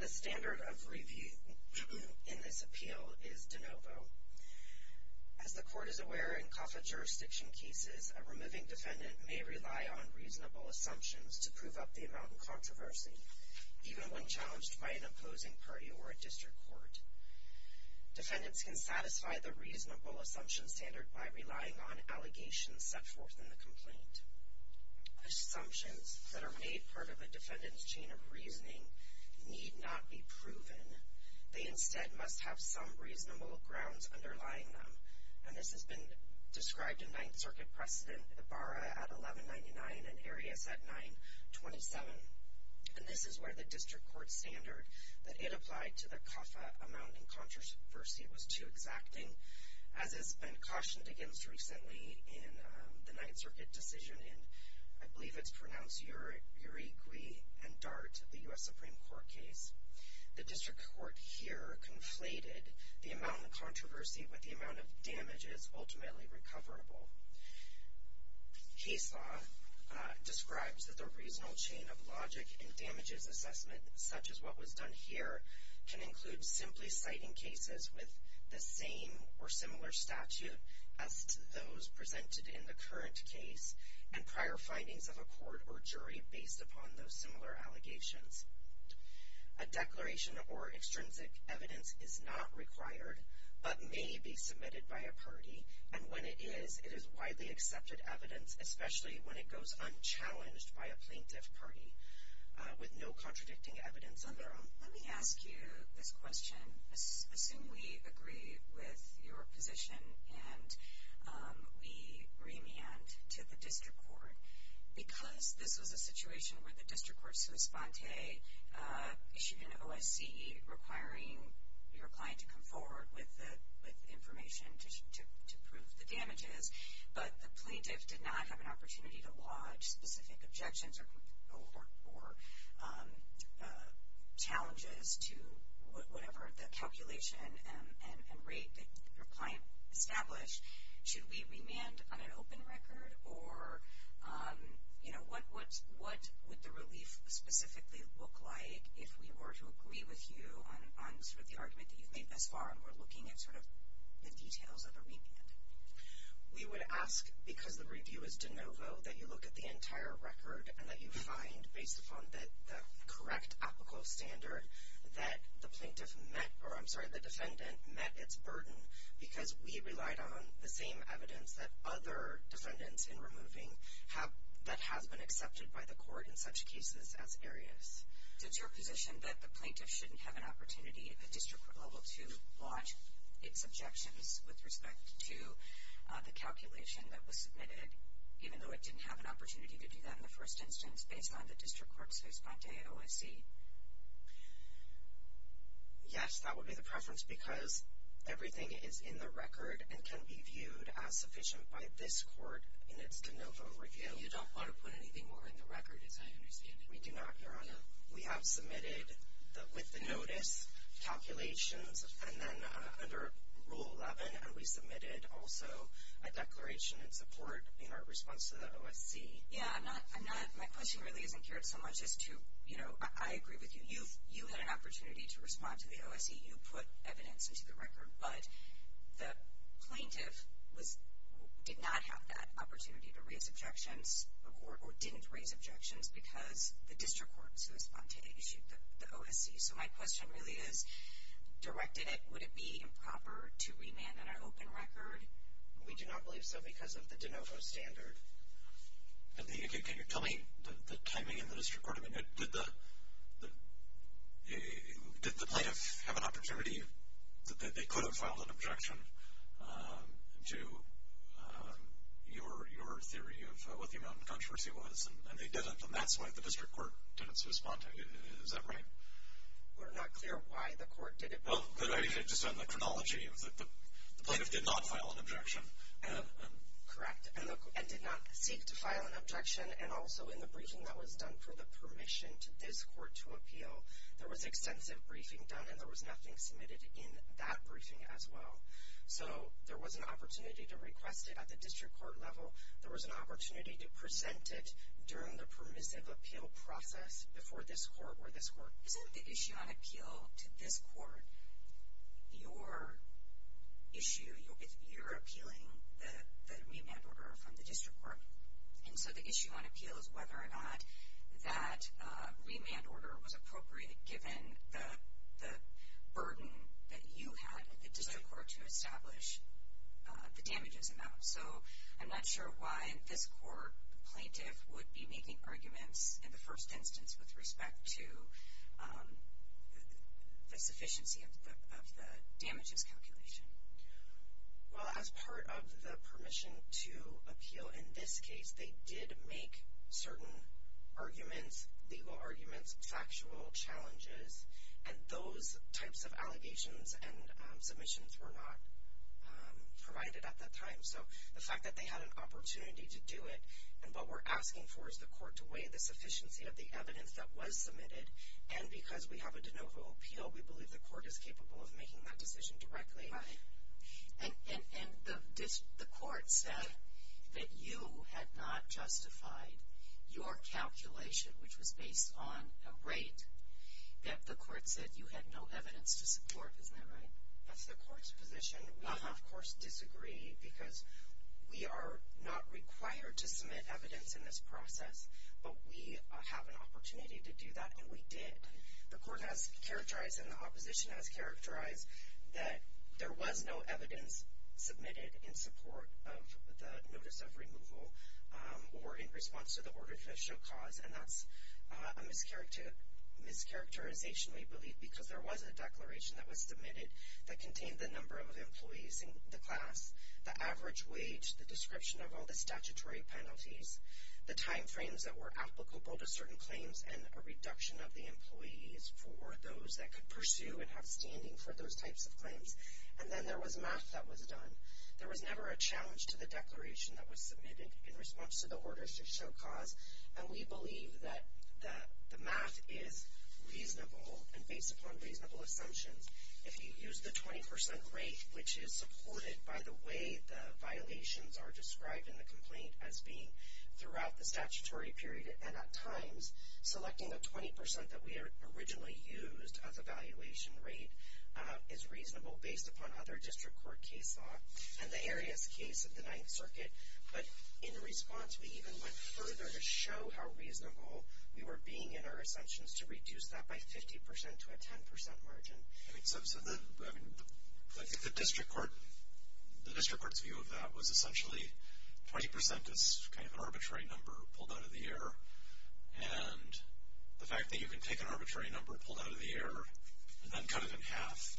The standard of review in this appeal is de novo. As the Court is aware, in CAFA jurisdiction cases, a removing defendant may rely on reasonable assumptions to prove up the amount in controversy, even when challenged by an opposing party or a district court. Defendants can satisfy the reasonable assumption standard by relying on allegations set forth in the complaint. Assumptions that are made part of a defendant's chain of reasoning need not be proven. They instead must have some reasonable grounds underlying them. This has been described in Ninth Circuit precedent Ibarra at 1199 and Arias at 927. This is where the district court standard that it applied to the CAFA amount in controversy was too exacting, as has been cautioned against recently in the Ninth Circuit decision in Urigui v. Dart, the U.S. Supreme Court case. The district court here conflated the amount in controversy with the amount of damages ultimately recoverable. Case law describes that the reasonable chain of logic in damages assessment, such as what was done here, can include simply citing cases with the same or similar statute as those presented in the current case and prior findings of a court or jury based upon those similar allegations. A declaration or extrinsic evidence is not required, but may be submitted by a party, and when it is, it is widely accepted evidence, especially when it goes unchallenged by a plaintiff party with no contradicting evidence on their own. Let me ask you this question. Assume we agree with your position and we remand to the district court. Because this was a situation where the district court sui sponte issued an OSCE requiring your client to come forward with information to prove the damages, but the plaintiff did not have an opportunity to lodge specific objections or challenges to whatever the calculation and rate that your client established. Should we remand on an open record or what would the relief specifically look like if we were to agree with you on sort of the argument that you've made thus far and we're looking at sort of the details of a remand? We would ask, because the review is de novo, that you look at the entire record and that you find, based upon the correct applicable standard, that the plaintiff met, or I'm sorry, the defendant met its burden because we relied on the same evidence that other defendants in removing have, that has been accepted by the court in such cases as Arias. Does your position that the plaintiff shouldn't have an opportunity at the district court level to lodge its objections with respect to the calculation that was submitted, even though it didn't have an opportunity to do that in the first instance, based upon the district court's sui sponte OSCE? Yes, that would be the preference, because everything is in the record and can be viewed as sufficient by this court in its de novo review. You don't want to put anything more in the record, as I understand it. We do not, Your Honor. We have submitted, with the notice, calculations, and then under Rule 11, and we submitted also a declaration in support in our response to the OSCE. Yeah, I'm not, my question really isn't geared so much as to, you know, I agree with you. You had an opportunity to respond to the OSCE. You put evidence into the record, but the plaintiff did not have that opportunity to raise objections, or didn't raise objections, because the district court sui sponte issued the OSCE. So, my question really is, directed it, would it be improper to remand an open record? We do not believe so, because of the de novo standard. Can you tell me the timing in the district court, did the plaintiff have an opportunity that they could have filed an objection to your theory of what the amount of controversy was, and they didn't, and that's why the district court didn't sui sponte, is that right? We're not clear why the court did it. Well, I mean, just on the chronology, the plaintiff did not file an objection, and... Correct, and did not seek to file an objection, and also in the briefing that was done for the permission to this court to appeal, there was extensive briefing done, and there was nothing submitted in that briefing as well. So, there was an opportunity to request it at the district court level, there was an opportunity to present it during the permissive appeal process before this court or this court. Isn't the issue on appeal to this court your issue, you're appealing the remand order from the district court? And so, the issue on appeal is whether or not that remand order was appropriate given the burden that you had at the district court to establish the damages amount. So, I'm not sure why in this court the plaintiff would be making arguments in the first instance with respect to the sufficiency of the damages calculation. Well, as part of the permission to appeal in this case, they did make certain arguments, legal arguments, factual challenges, and those types of allegations and submissions were not provided at that time. So, the fact that they had an opportunity to do it, and what we're asking for is the court to weigh the sufficiency of the evidence that was submitted, and because we have a And the court said that you had not justified your calculation, which was based on a rate, that the court said you had no evidence to support, isn't that right? That's the court's position, we of course disagree, because we are not required to submit evidence in this process, but we have an opportunity to do that, and we did. The court has characterized, and the opposition has characterized, that there was no evidence submitted in support of the notice of removal, or in response to the order to show cause, and that's a mischaracterization, we believe, because there was a declaration that was submitted that contained the number of employees in the class, the average wage, the description of all the statutory penalties, the timeframes that were applicable to certain claims, and a reduction of the employees for those that could pursue and have standing for those types of claims. And then there was math that was done. There was never a challenge to the declaration that was submitted in response to the order to show cause, and we believe that the math is reasonable, and based upon reasonable assumptions. If you use the 20% rate, which is supported by the way the violations are described in the complaint as being throughout the statutory period, and at times, selecting the 20% that we originally used as a valuation rate is reasonable based upon other district court case law, and the area's case of the Ninth Circuit, but in response we even went further to show how reasonable we were being in our assumptions to reduce that by 50% to a 10% margin. I think the district court's view of that was essentially 20% is kind of an arbitrary number pulled out of the air, and the fact that you can take an arbitrary number pulled out of the air and then cut it in half,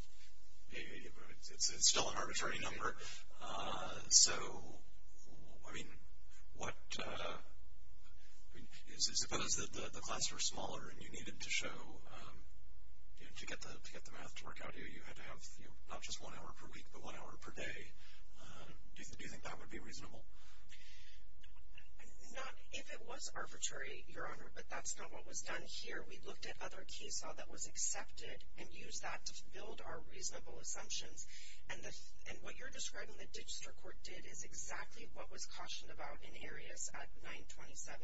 it's still an arbitrary number. So, I mean, what, suppose that the class were smaller and you needed to show, you know, to get the math to work out here, you had to have, you know, not just one hour per week, but one hour per day, do you think that would be reasonable? Not, if it was arbitrary, Your Honor, but that's not what was done here. We looked at other case law that was accepted and used that to build our reasonable assumptions, and what you're describing the district court did is exactly what was cautioned about in Arias at 927.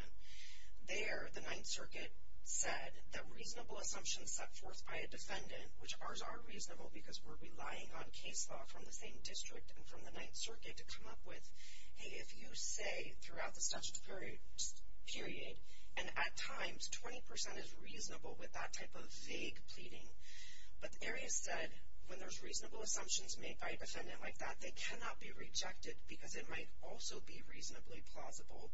There, the Ninth Circuit said that reasonable assumptions set forth by a defendant, which ours are reasonable because we're relying on case law from the same district and from the Ninth Circuit to come up with, hey, if you say throughout the statute period, and at times 20% is reasonable with that type of vague pleading, but Arias said when there's reasonable assumptions made by a defendant like that, they cannot be rejected because it might also be reasonably plausible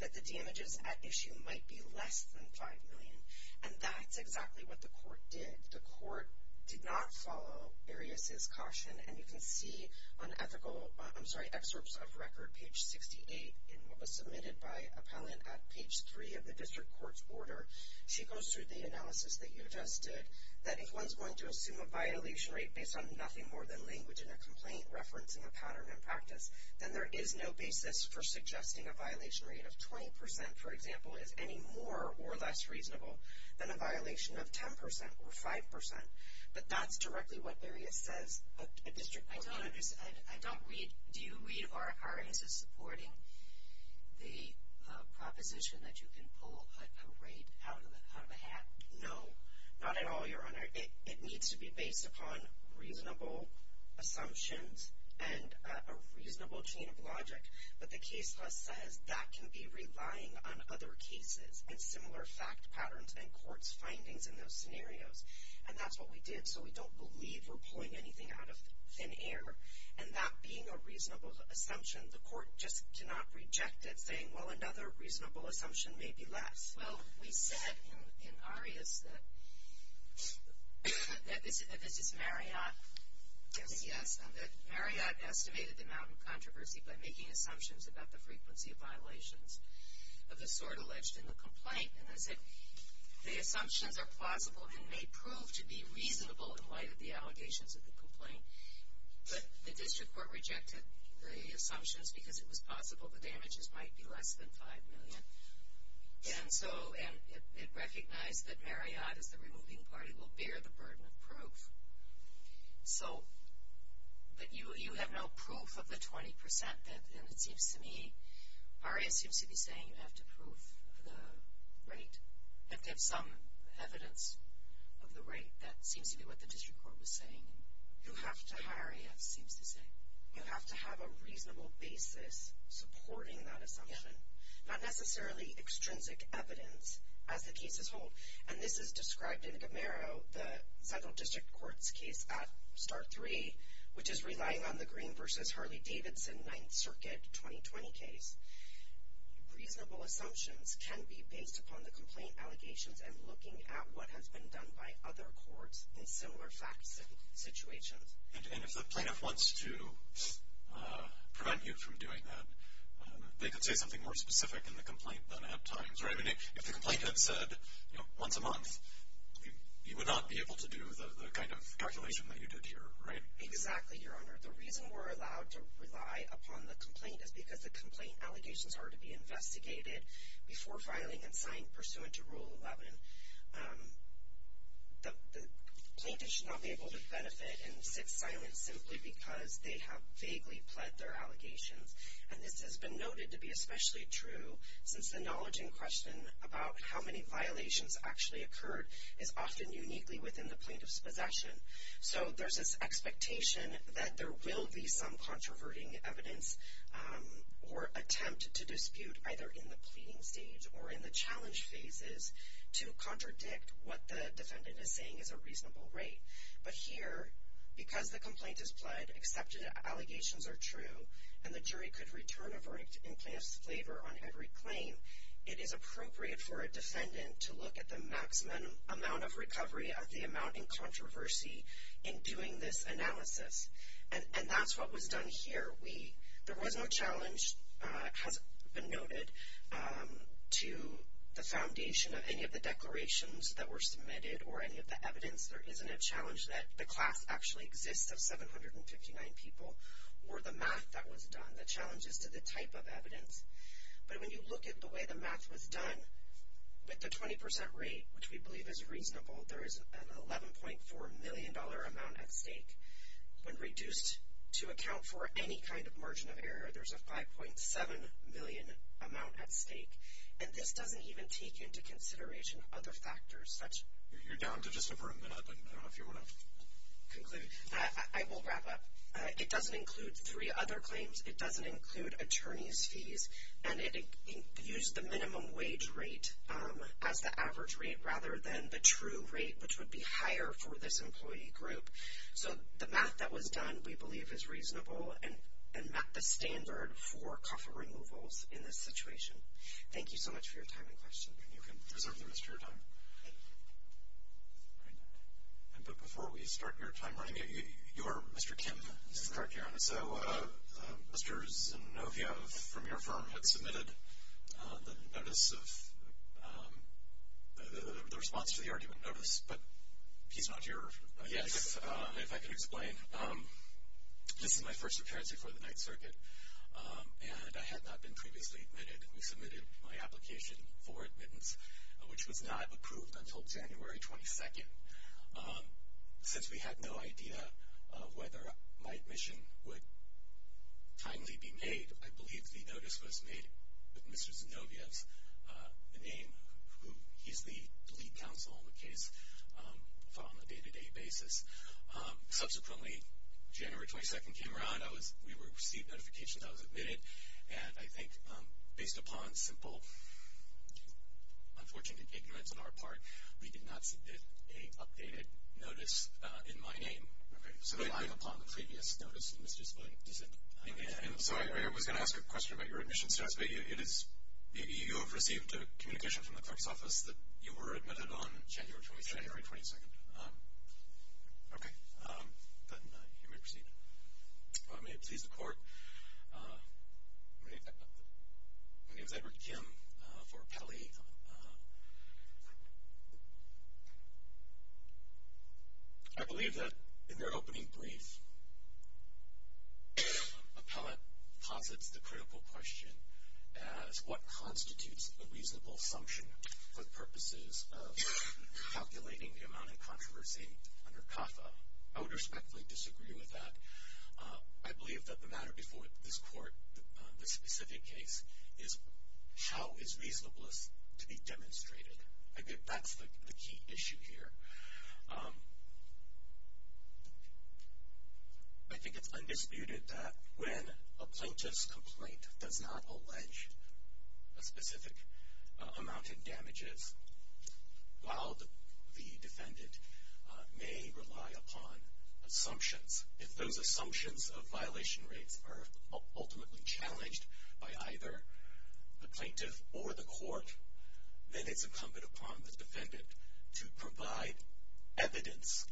that the damages at issue might be less than 5 million, and that's exactly what the court did. The court did not follow Arias' caution, and you can see on ethical, I'm sorry, excerpts of record page 68 in what was submitted by appellant at page three of the district court's order, she goes through the analysis that you just did that if one's going to assume a violation rate based on nothing more than language and a complaint referencing a pattern in practice, then there is no basis for suggesting a violation rate of 20%, for example, is any more or less reasonable than a violation of 10% or 5%, but that's directly what Arias says a district court can do. I don't read, do you read or are Arias' supporting the proposition that you can pull a rate out of a hat? No, not at all, your honor. It needs to be based upon reasonable assumptions and a reasonable chain of logic, but the case law says that can be relying on other cases and similar fact patterns and court's findings in those scenarios, and that's what we did, so we don't believe we're pulling anything out of thin air, and that being a reasonable assumption, the court just cannot reject it, saying, well, another reasonable assumption may be less. Well, we said in Arias that, that this is Marriott, and that Marriott estimated the amount of controversy by making assumptions about the frequency of violations of the sort alleged in the complaint, and they said the assumptions are plausible and may prove to be reasonable in light of the allegations of the complaint, but the district court rejected the assumptions because it was possible the damages might be less than 5 million, and so, and it recognized that Marriott is the removing party will bear the burden of proof, so, but you have no proof of the 20% that, and it seems to me, Arias seems to be saying you have to prove the rate, that there's some evidence of the rate that seems to be what the district court was saying. You have to, Arias seems to say, you have to have a reasonable basis supporting that assumption, not necessarily extrinsic evidence as the cases hold, and this is described in Gomero, the central district court's case at start three, which is relying on the Green versus Harley-Davidson Ninth Circuit 2020 case. Reasonable assumptions can be based upon the complaint allegations and looking at what has been done by other courts in similar facts and situations. And if the plaintiff wants to prevent you from doing that, they could say something more specific in the complaint than at times, right? I mean, if the complaint had said, you know, once a month, you would not be able to do the kind of calculation that you did here, right? Exactly, Your Honor. The reason we're allowed to rely upon the complaint is because the complaint allegations are to be investigated before filing and signed pursuant to Rule 11. The plaintiff should not be able to benefit and sit silent simply because they have vaguely pled their allegations. And this has been noted to be especially true since the knowledge in question about how many violations actually occurred is often uniquely within the plaintiff's possession. So there's this expectation that there will be some controverting evidence or attempt to dispute either in the pleading stage or in the challenge phases to contradict what the defendant is saying is a reasonable rate. But here, because the complaint is pled, accepted allegations are true, and the jury could return a verdict in plaintiff's favor on every claim, it is appropriate for a defendant to look at the maximum amount of recovery of the amount in controversy in doing this analysis. And that's what was done here. There was no challenge, has been noted, to the foundation of any of the declarations that were submitted or any of the evidence. There isn't a challenge that the class actually exists of 759 people or the math that was done. The challenge is to the type of evidence. But when you look at the way the math was done, with the 20% rate, which we believe is reasonable, there is an $11.4 million amount at stake. When reduced to account for any kind of margin of error, there's a $5.7 million amount at stake. And this doesn't even take into consideration other factors. That's. You're down to just a very minute, but I don't know if you want to conclude. I will wrap up. It doesn't include three other claims. It doesn't include attorney's fees. And it used the minimum wage rate as the average rate rather than the true rate, which would be higher for this employee group. So the math that was done, we believe, is reasonable and met the standard for COFA removals in this situation. Thank you so much for your time and question. And you can reserve the rest of your time. And but before we start your time running, you are Mr. Kim. This is Kirk, Aaron. So Mr. Zinoviev from your firm had submitted the notice of, the response to the argument notice. But he's not here. Yes. If I can explain. This is my first appearance before the Ninth Circuit. And I had not been previously admitted. We submitted my application for admittance, which was not approved until January 22nd. Since we had no idea of whether my admission would timely be made, I believe the notice was made with Mr. Zinoviev's name, who he's the lead counsel on the case on a day-to-day basis. Subsequently, January 22nd came around, we received notifications I was admitted. And I think based upon simple unfortunate ignorance on our part, we did not submit a updated notice in my name. Okay, so- Relying upon the previous notice of Mr. Zinoviev. He said- I'm sorry, I was going to ask a question about your admission status. But it is, you have received a communication from the clerk's office that you were admitted on January 22nd. January 22nd. Okay. Then, you may proceed. If I may please the court, my name is Edward Kim for Pelley. I believe that in their opening brief, appellate posits the critical question as what constitutes a reasonable assumption for purposes of calculating the amount of controversy under CAFA. I would respectfully disagree with that. I believe that the matter before this court, this specific case, is how is reasonableness to be demonstrated. I think that's the key issue here. I think it's undisputed that when a plaintiff's complaint does not allege a specific amount of damages, while the defendant may rely upon assumptions. If those assumptions of violation rates are ultimately challenged by either the plaintiff or the court, then it's incumbent upon the defendant to provide evidence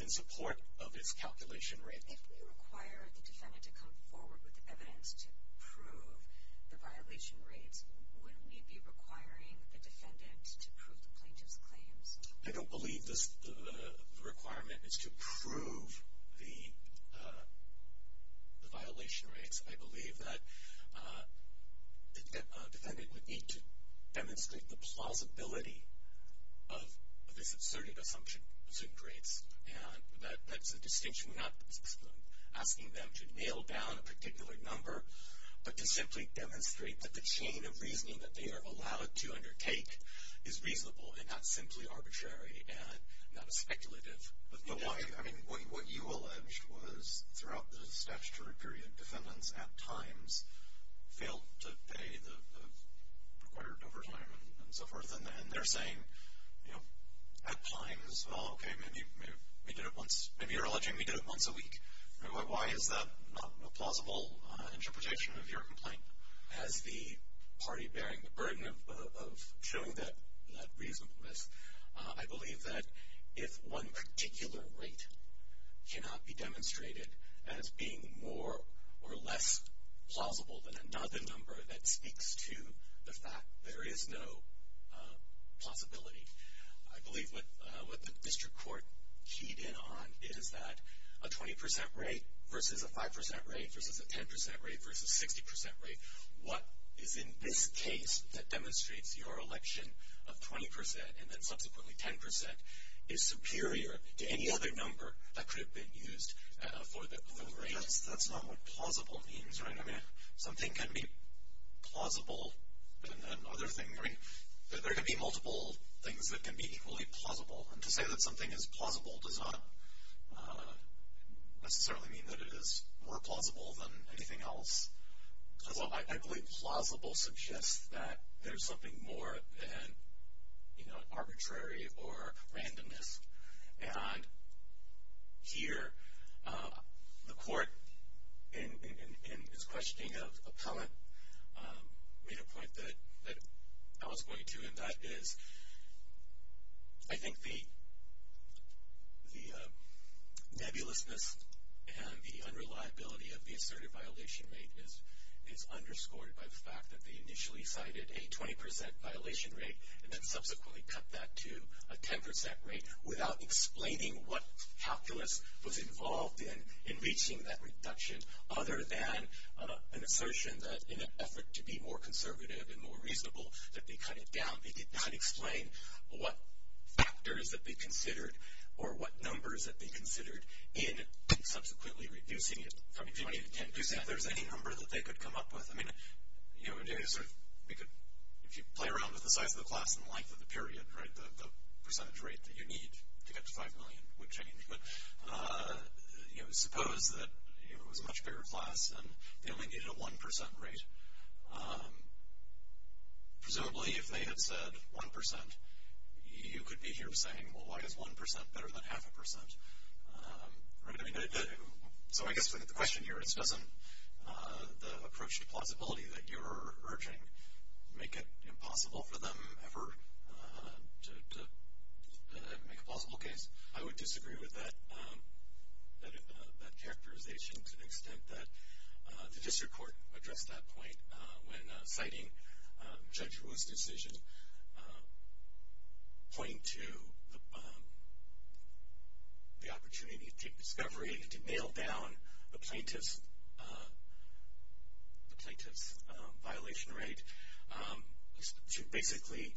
in support of its calculation rate. If we require the defendant to come forward with evidence to prove the violation rates, wouldn't we be requiring the defendant to prove the plaintiff's claims? I don't believe the requirement is to prove the violation rates. I believe that a defendant would need to demonstrate the plausibility of this asserted assumption, assumed rates. And that's a distinction, we're not asking them to nail down a particular number, but to simply demonstrate that the chain of reasoning that they are allowed to undertake is reasonable and not simply arbitrary and not speculative. But why, I mean, what you alleged was throughout the statutory period, defendants at times failed to pay the required overtime and so forth. And they're saying, at times, well, okay, maybe you're alleging we did it once a week. Why is that not a plausible interpretation of your complaint? As the party bearing the burden of showing that reasonableness, I believe that if one particular rate cannot be demonstrated as being more or less plausible than another number that speaks to the fact there is no possibility. I believe what the district court keyed in on is that a 20% rate versus a 5% rate versus a 10% rate versus a 60% rate. What is in this case that demonstrates your election of 20% and then subsequently 10% is superior to any other number that could have been used for the rate. That's not what plausible means, right? I mean, something can be plausible than another thing. I mean, there can be multiple things that can be equally plausible. And to say that something is plausible does not necessarily mean that it is more plausible than anything else. Although, I believe plausible suggests that there's something more than arbitrary or randomness. And here, the court in its questioning of appellant made a point that I was going to, and that is, I think the nebulousness and the unreliability of the assertive violation rate is underscored by the fact that they initially cited a 20% violation rate and then subsequently cut that to a 10% rate without explaining what calculus was involved in, in reaching that reduction, other than an assertion that in an effort to be more conservative and more reasonable, that they cut it down. They did not explain what factors that they considered or what numbers that they considered in subsequently reducing it from 20 to 10%. Do you think there's any number that they could come up with? I mean, if you play around with the size of the class and the length of the period, right? The percentage rate that you need to get to 5 million would change. But suppose that it was a much bigger class and they only needed a 1% rate. Presumably, if they had said 1%, you could be here saying, well, why is 1% better than half a percent, right? I mean, so I guess the question here is, doesn't the approach to plausibility that you're urging make it impossible for them ever to make a plausible case? I would disagree with that characterization to the extent that the district court addressed that point when citing Judge Ruehl's decision, pointing to the opportunity to take discovery and to nail down the plaintiff's violation rate. To basically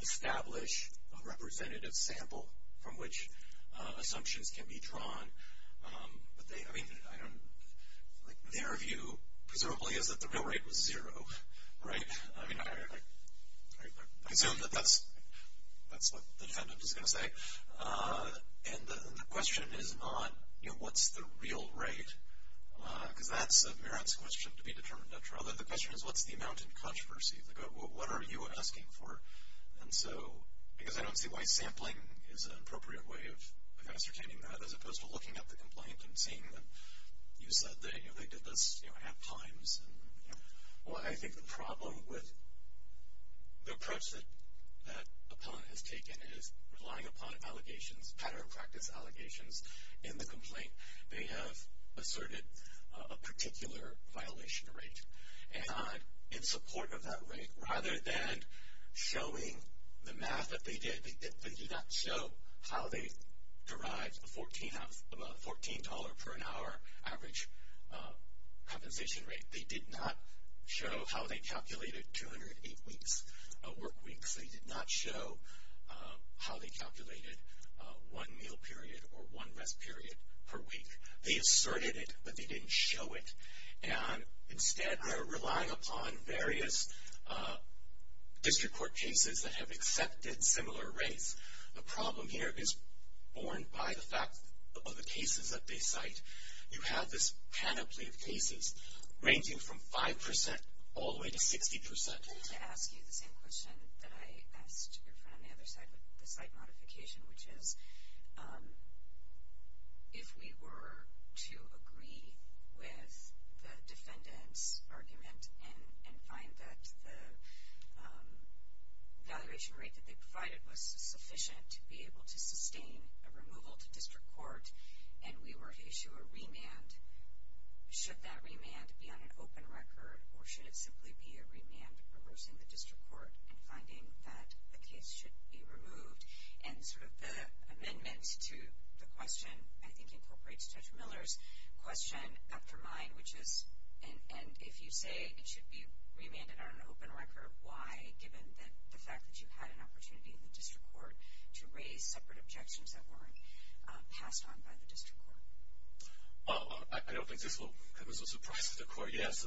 establish a representative sample from which assumptions can be drawn. But I mean, their view, presumably, is that the real rate was zero, right? I mean, I assume that that's what the defendant is going to say. And the question is not, what's the real rate? Because that's Merritt's question to be determined at trial. The question is, what's the amount in controversy? What are you asking for? And so, because I don't see why sampling is an appropriate way of ascertaining that, as opposed to looking at the complaint and seeing that you said that they did this at times. Well, I think the problem with the approach that that appellant has taken is relying upon allegations, pattern of practice allegations. In the complaint, they have asserted a particular violation rate. And in support of that rate, rather than showing the math that they did, they did not show how they derived a $14 per hour average compensation rate. They did not show how they calculated 208 work weeks. They did not show how they calculated one meal period or one rest period per week. They asserted it, but they didn't show it. And instead, they're relying upon various district court cases that have accepted similar rates. The problem here is born by the fact of the cases that they cite. You have this panoply of cases ranging from 5% all the way to 60%. I wanted to ask you the same question that I asked your friend on the other side of the site modification, which is, if we were to agree with the defendant's argument and find that the valuation rate that they provided was sufficient to be able to sustain a removal to district court, and we were to issue a remand, should that remand be on an open record, or should it simply be a remand reversing the district court and finding that the case should be removed? And sort of the amendment to the question, I think, incorporates Judge Miller's question after mine, which is, and if you say it should be remanded on an open record, why, given the fact that you had an opportunity in the district court to raise separate objections that weren't passed on by the district court? Well, I don't think this will come as a surprise to the court. Yes,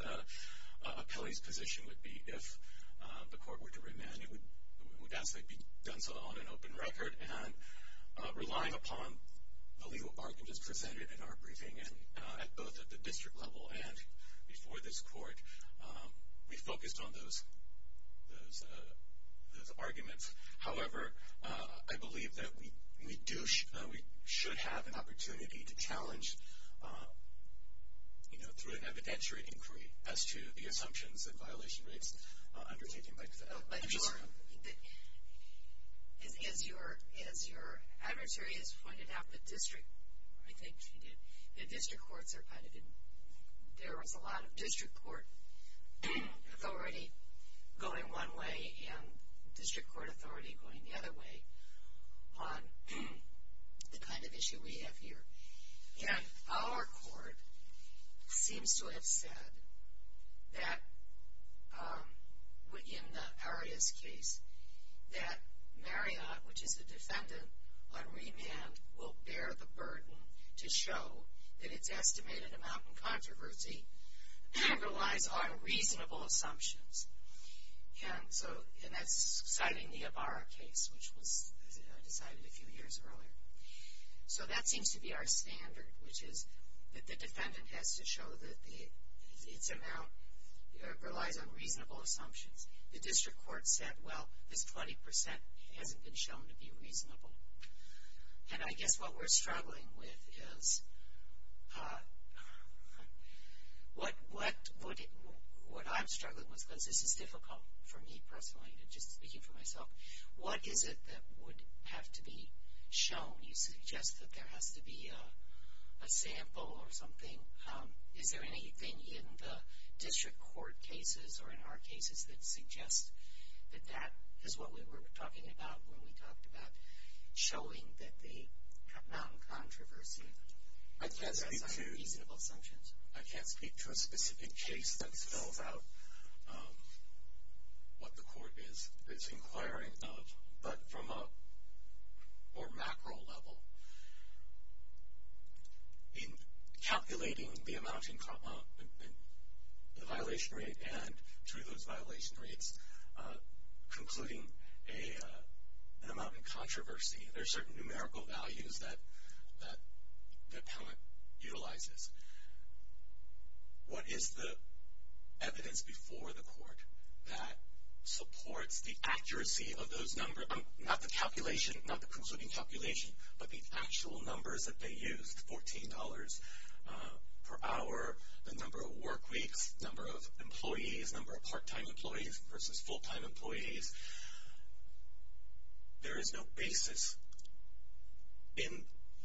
Kelly's position would be if the court were to remand, it would actually be done so on an open record. And relying upon the legal arguments presented in our briefing, and both at the district level and before this court, we focused on those arguments. However, I believe that we do, we should have an opportunity to challenge, you know, through an evidentiary inquiry as to the assumptions and violation rates undertaken by the fed. But your, as your adversary has pointed out, the district, I think she did, the district courts are kind of, there was a lot of district court authority going one way, and district court authority going the other way on the kind of issue we have here. And our court seems to have said that, in Aria's case, that Marriott, which is the defendant, on remand will bear the burden to show that its estimated amount in controversy relies on reasonable assumptions. And so, and that's citing the Ibarra case, which was decided a few years earlier. So, that seems to be our standard, which is that the defendant has to show that the, its amount relies on reasonable assumptions. The district court said, well, this 20% hasn't been shown to be reasonable. And I guess what we're struggling with is, what, what, what I'm struggling with, because this is difficult for me personally, just speaking for myself, what is it that would have to be shown? You suggest that there has to be a sample or something. Is there anything in the district court cases or in our cases that suggest that that is what we were talking about when we talked about showing that the amount in controversy relies on reasonable assumptions? I can't speak to a specific case that spells out what the court is inquiring of. But from a more macro level, in calculating the amount in, the violation rate and through those violation rates, concluding a, an amount in controversy, there's certain numerical values that, that the appellant utilizes. What is the evidence before the court that supports the accuracy of those number, not the calculation, not the concluding calculation, but the actual numbers that they used, $14 per hour, the number of work weeks, number of employees, number of part-time employees versus full-time employees. There is no basis in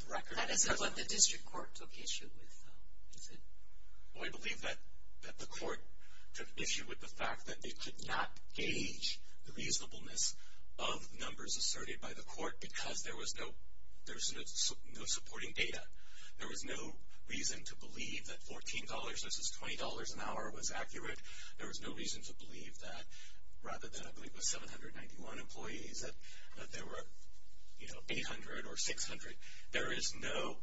the record. That is not what the district court took issue with, though, is it? Well, I believe that, that the court took issue with the fact that they could not gauge the reasonableness of numbers asserted by the court because there was no, there was no supporting data. There was no reason to believe that $14 versus $20 an hour was accurate. There was no reason to believe that, rather than I believe it was 791 employees, that there were, you know, 800 or 600. There is no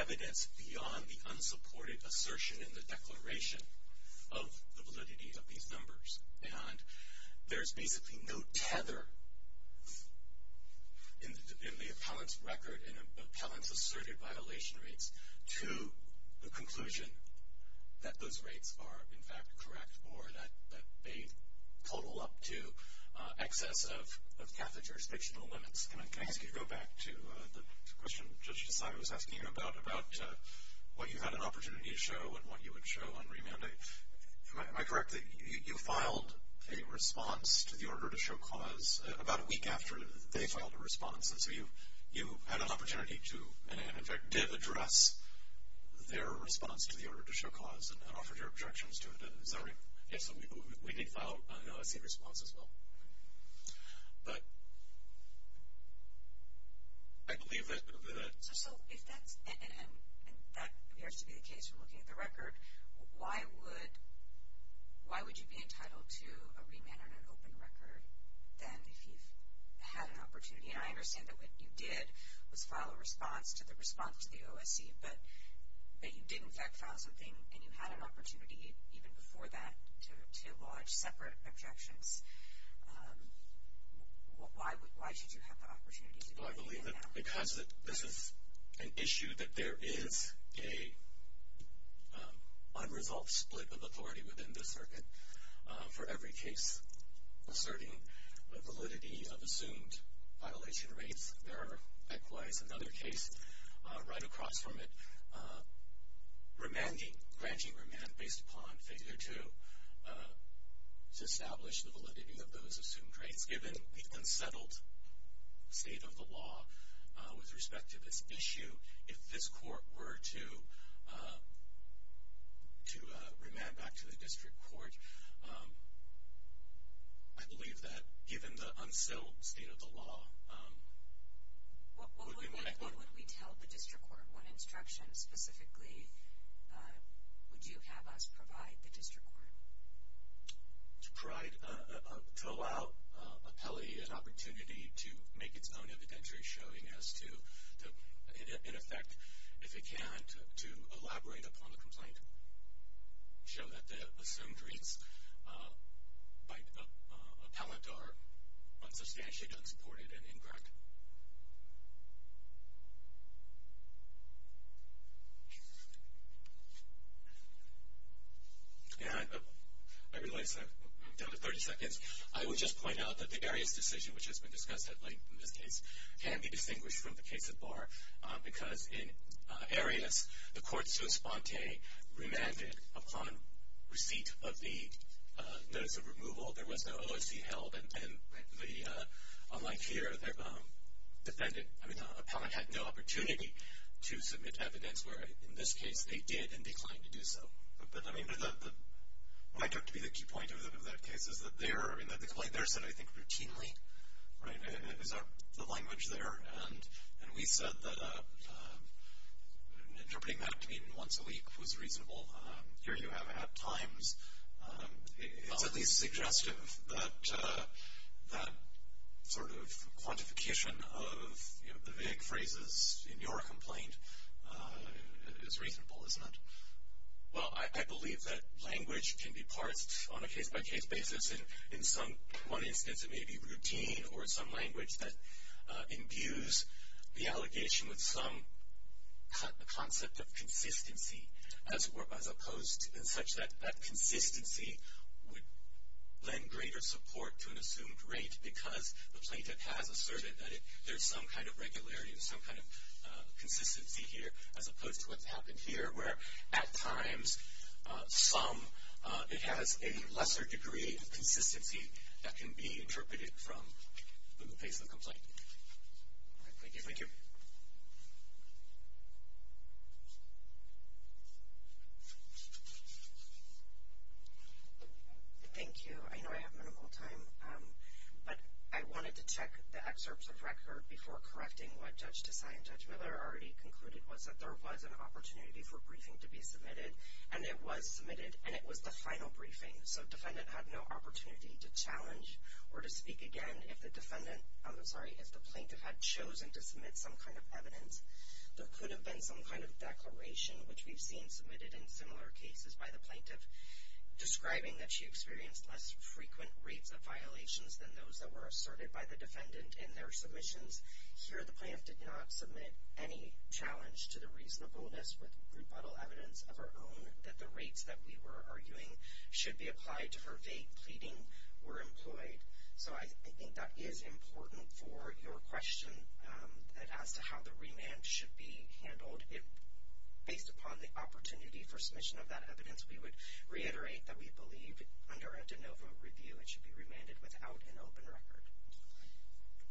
evidence beyond the unsupported assertion in the declaration of the validity of these numbers. And there's basically no tether in the appellant's record and appellant's asserted violation rates to the conclusion that those rates are, in fact, correct or that they total up to excess of catheter's fictional limits. Can I ask you to go back to the question Judge Desai was asking you about, about what you had an opportunity to show and what you would show on remand? Am I correct that you filed a response to the order to show cause about a week after they filed a response, and so you had an opportunity to, and in fact, did address their response to the order to show cause and offered your objections to it, is that right? Yes, we did file a same response as well. But, I believe that. So, if that's, and that appears to be the case from looking at the record, why would, why would you be entitled to a remand on an open record then if you've had an opportunity? And I understand that what you did was file a response to the response to the OSC, but you did, in fact, file something and you had an opportunity even before that to lodge separate objections. Why should you have the opportunity to do that? Well, I believe that because this is an issue that there is a unresolved split of authority within the circuit for every case asserting a validity of assumed violation rates. There are likewise another case right across from it remanding, granting remand based upon failure to establish the validity of those assumed rates given the unsettled state of the law with respect to this issue. If this court were to remand back to the district court, I believe that given the unsettled state of the law. What would we tell the district court? What instructions specifically would you have us provide the district court? To provide, to allow appellee an opportunity to make its own evidentiary showing as to, in effect, if it can't, to elaborate upon the complaint. Show that the assumed rates by appellate are unsubstantiated, unsupported, and incorrect. Yeah, I realize I'm down to 30 seconds. I would just point out that the Arias decision, which has been discussed at length in this case, can be distinguished from the case at bar. Because in Arias, the court so sponte remanded upon receipt of the notice of removal. There was no OSC held. And unlike here, the defendant, I mean, the appellant had no opportunity to submit evidence where in this case they did and declined to do so. But I mean, what I took to be the key point of that case is that there, in the complaint there said, I think, routinely, right, is the language there. And we said that interpreting that once a week was reasonable. Here you have at times, it's at least suggestive that sort of quantification of, you know, the vague phrases in your complaint is reasonable, isn't it? Well, I believe that language can be parsed on a case-by-case basis. And in some, one instance, it may be routine or some language that imbues the allegation with some concept of consistency as opposed in such that that consistency would lend greater support to an assumed rate because the plaintiff has asserted that there's some kind of regularity or some kind of consistency here as opposed to what's happened here where at times some, it has a lesser degree of consistency that can be interpreted from the face of the complaint. Thank you. Thank you. Thank you. I know I have minimal time. But I wanted to check the excerpts of record before correcting what Judge Tessai and Judge Miller already concluded was that there was an opportunity for briefing to be submitted. And it was submitted. And it was the final briefing. So defendant had no opportunity to challenge or to speak again if the defendant, I'm sorry, if the plaintiff had chosen to submit some kind of evidence. There could have been some kind of declaration which we've seen submitted in similar cases by the plaintiff describing that she experienced less frequent rates of violations than those that were asserted by the defendant in their submissions. Here, the plaintiff did not submit any challenge to the reasonableness with rebuttal evidence of her own that the rates that we were arguing should be applied to her vague pleading were employed. So I think that is important for your question as to how the remand should be handled. If based upon the opportunity for submission of that evidence, we would reiterate that we believe under a de novo review it should be remanded without an open record.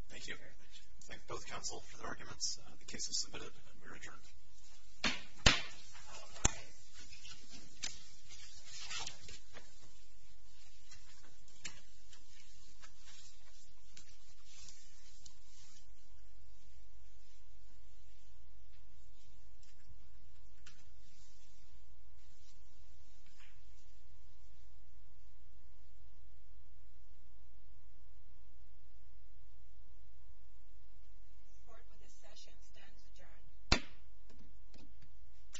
Thank you very much. Thank both counsel for the arguments. The case is submitted and we're adjourned. Support for this session stands adjourned.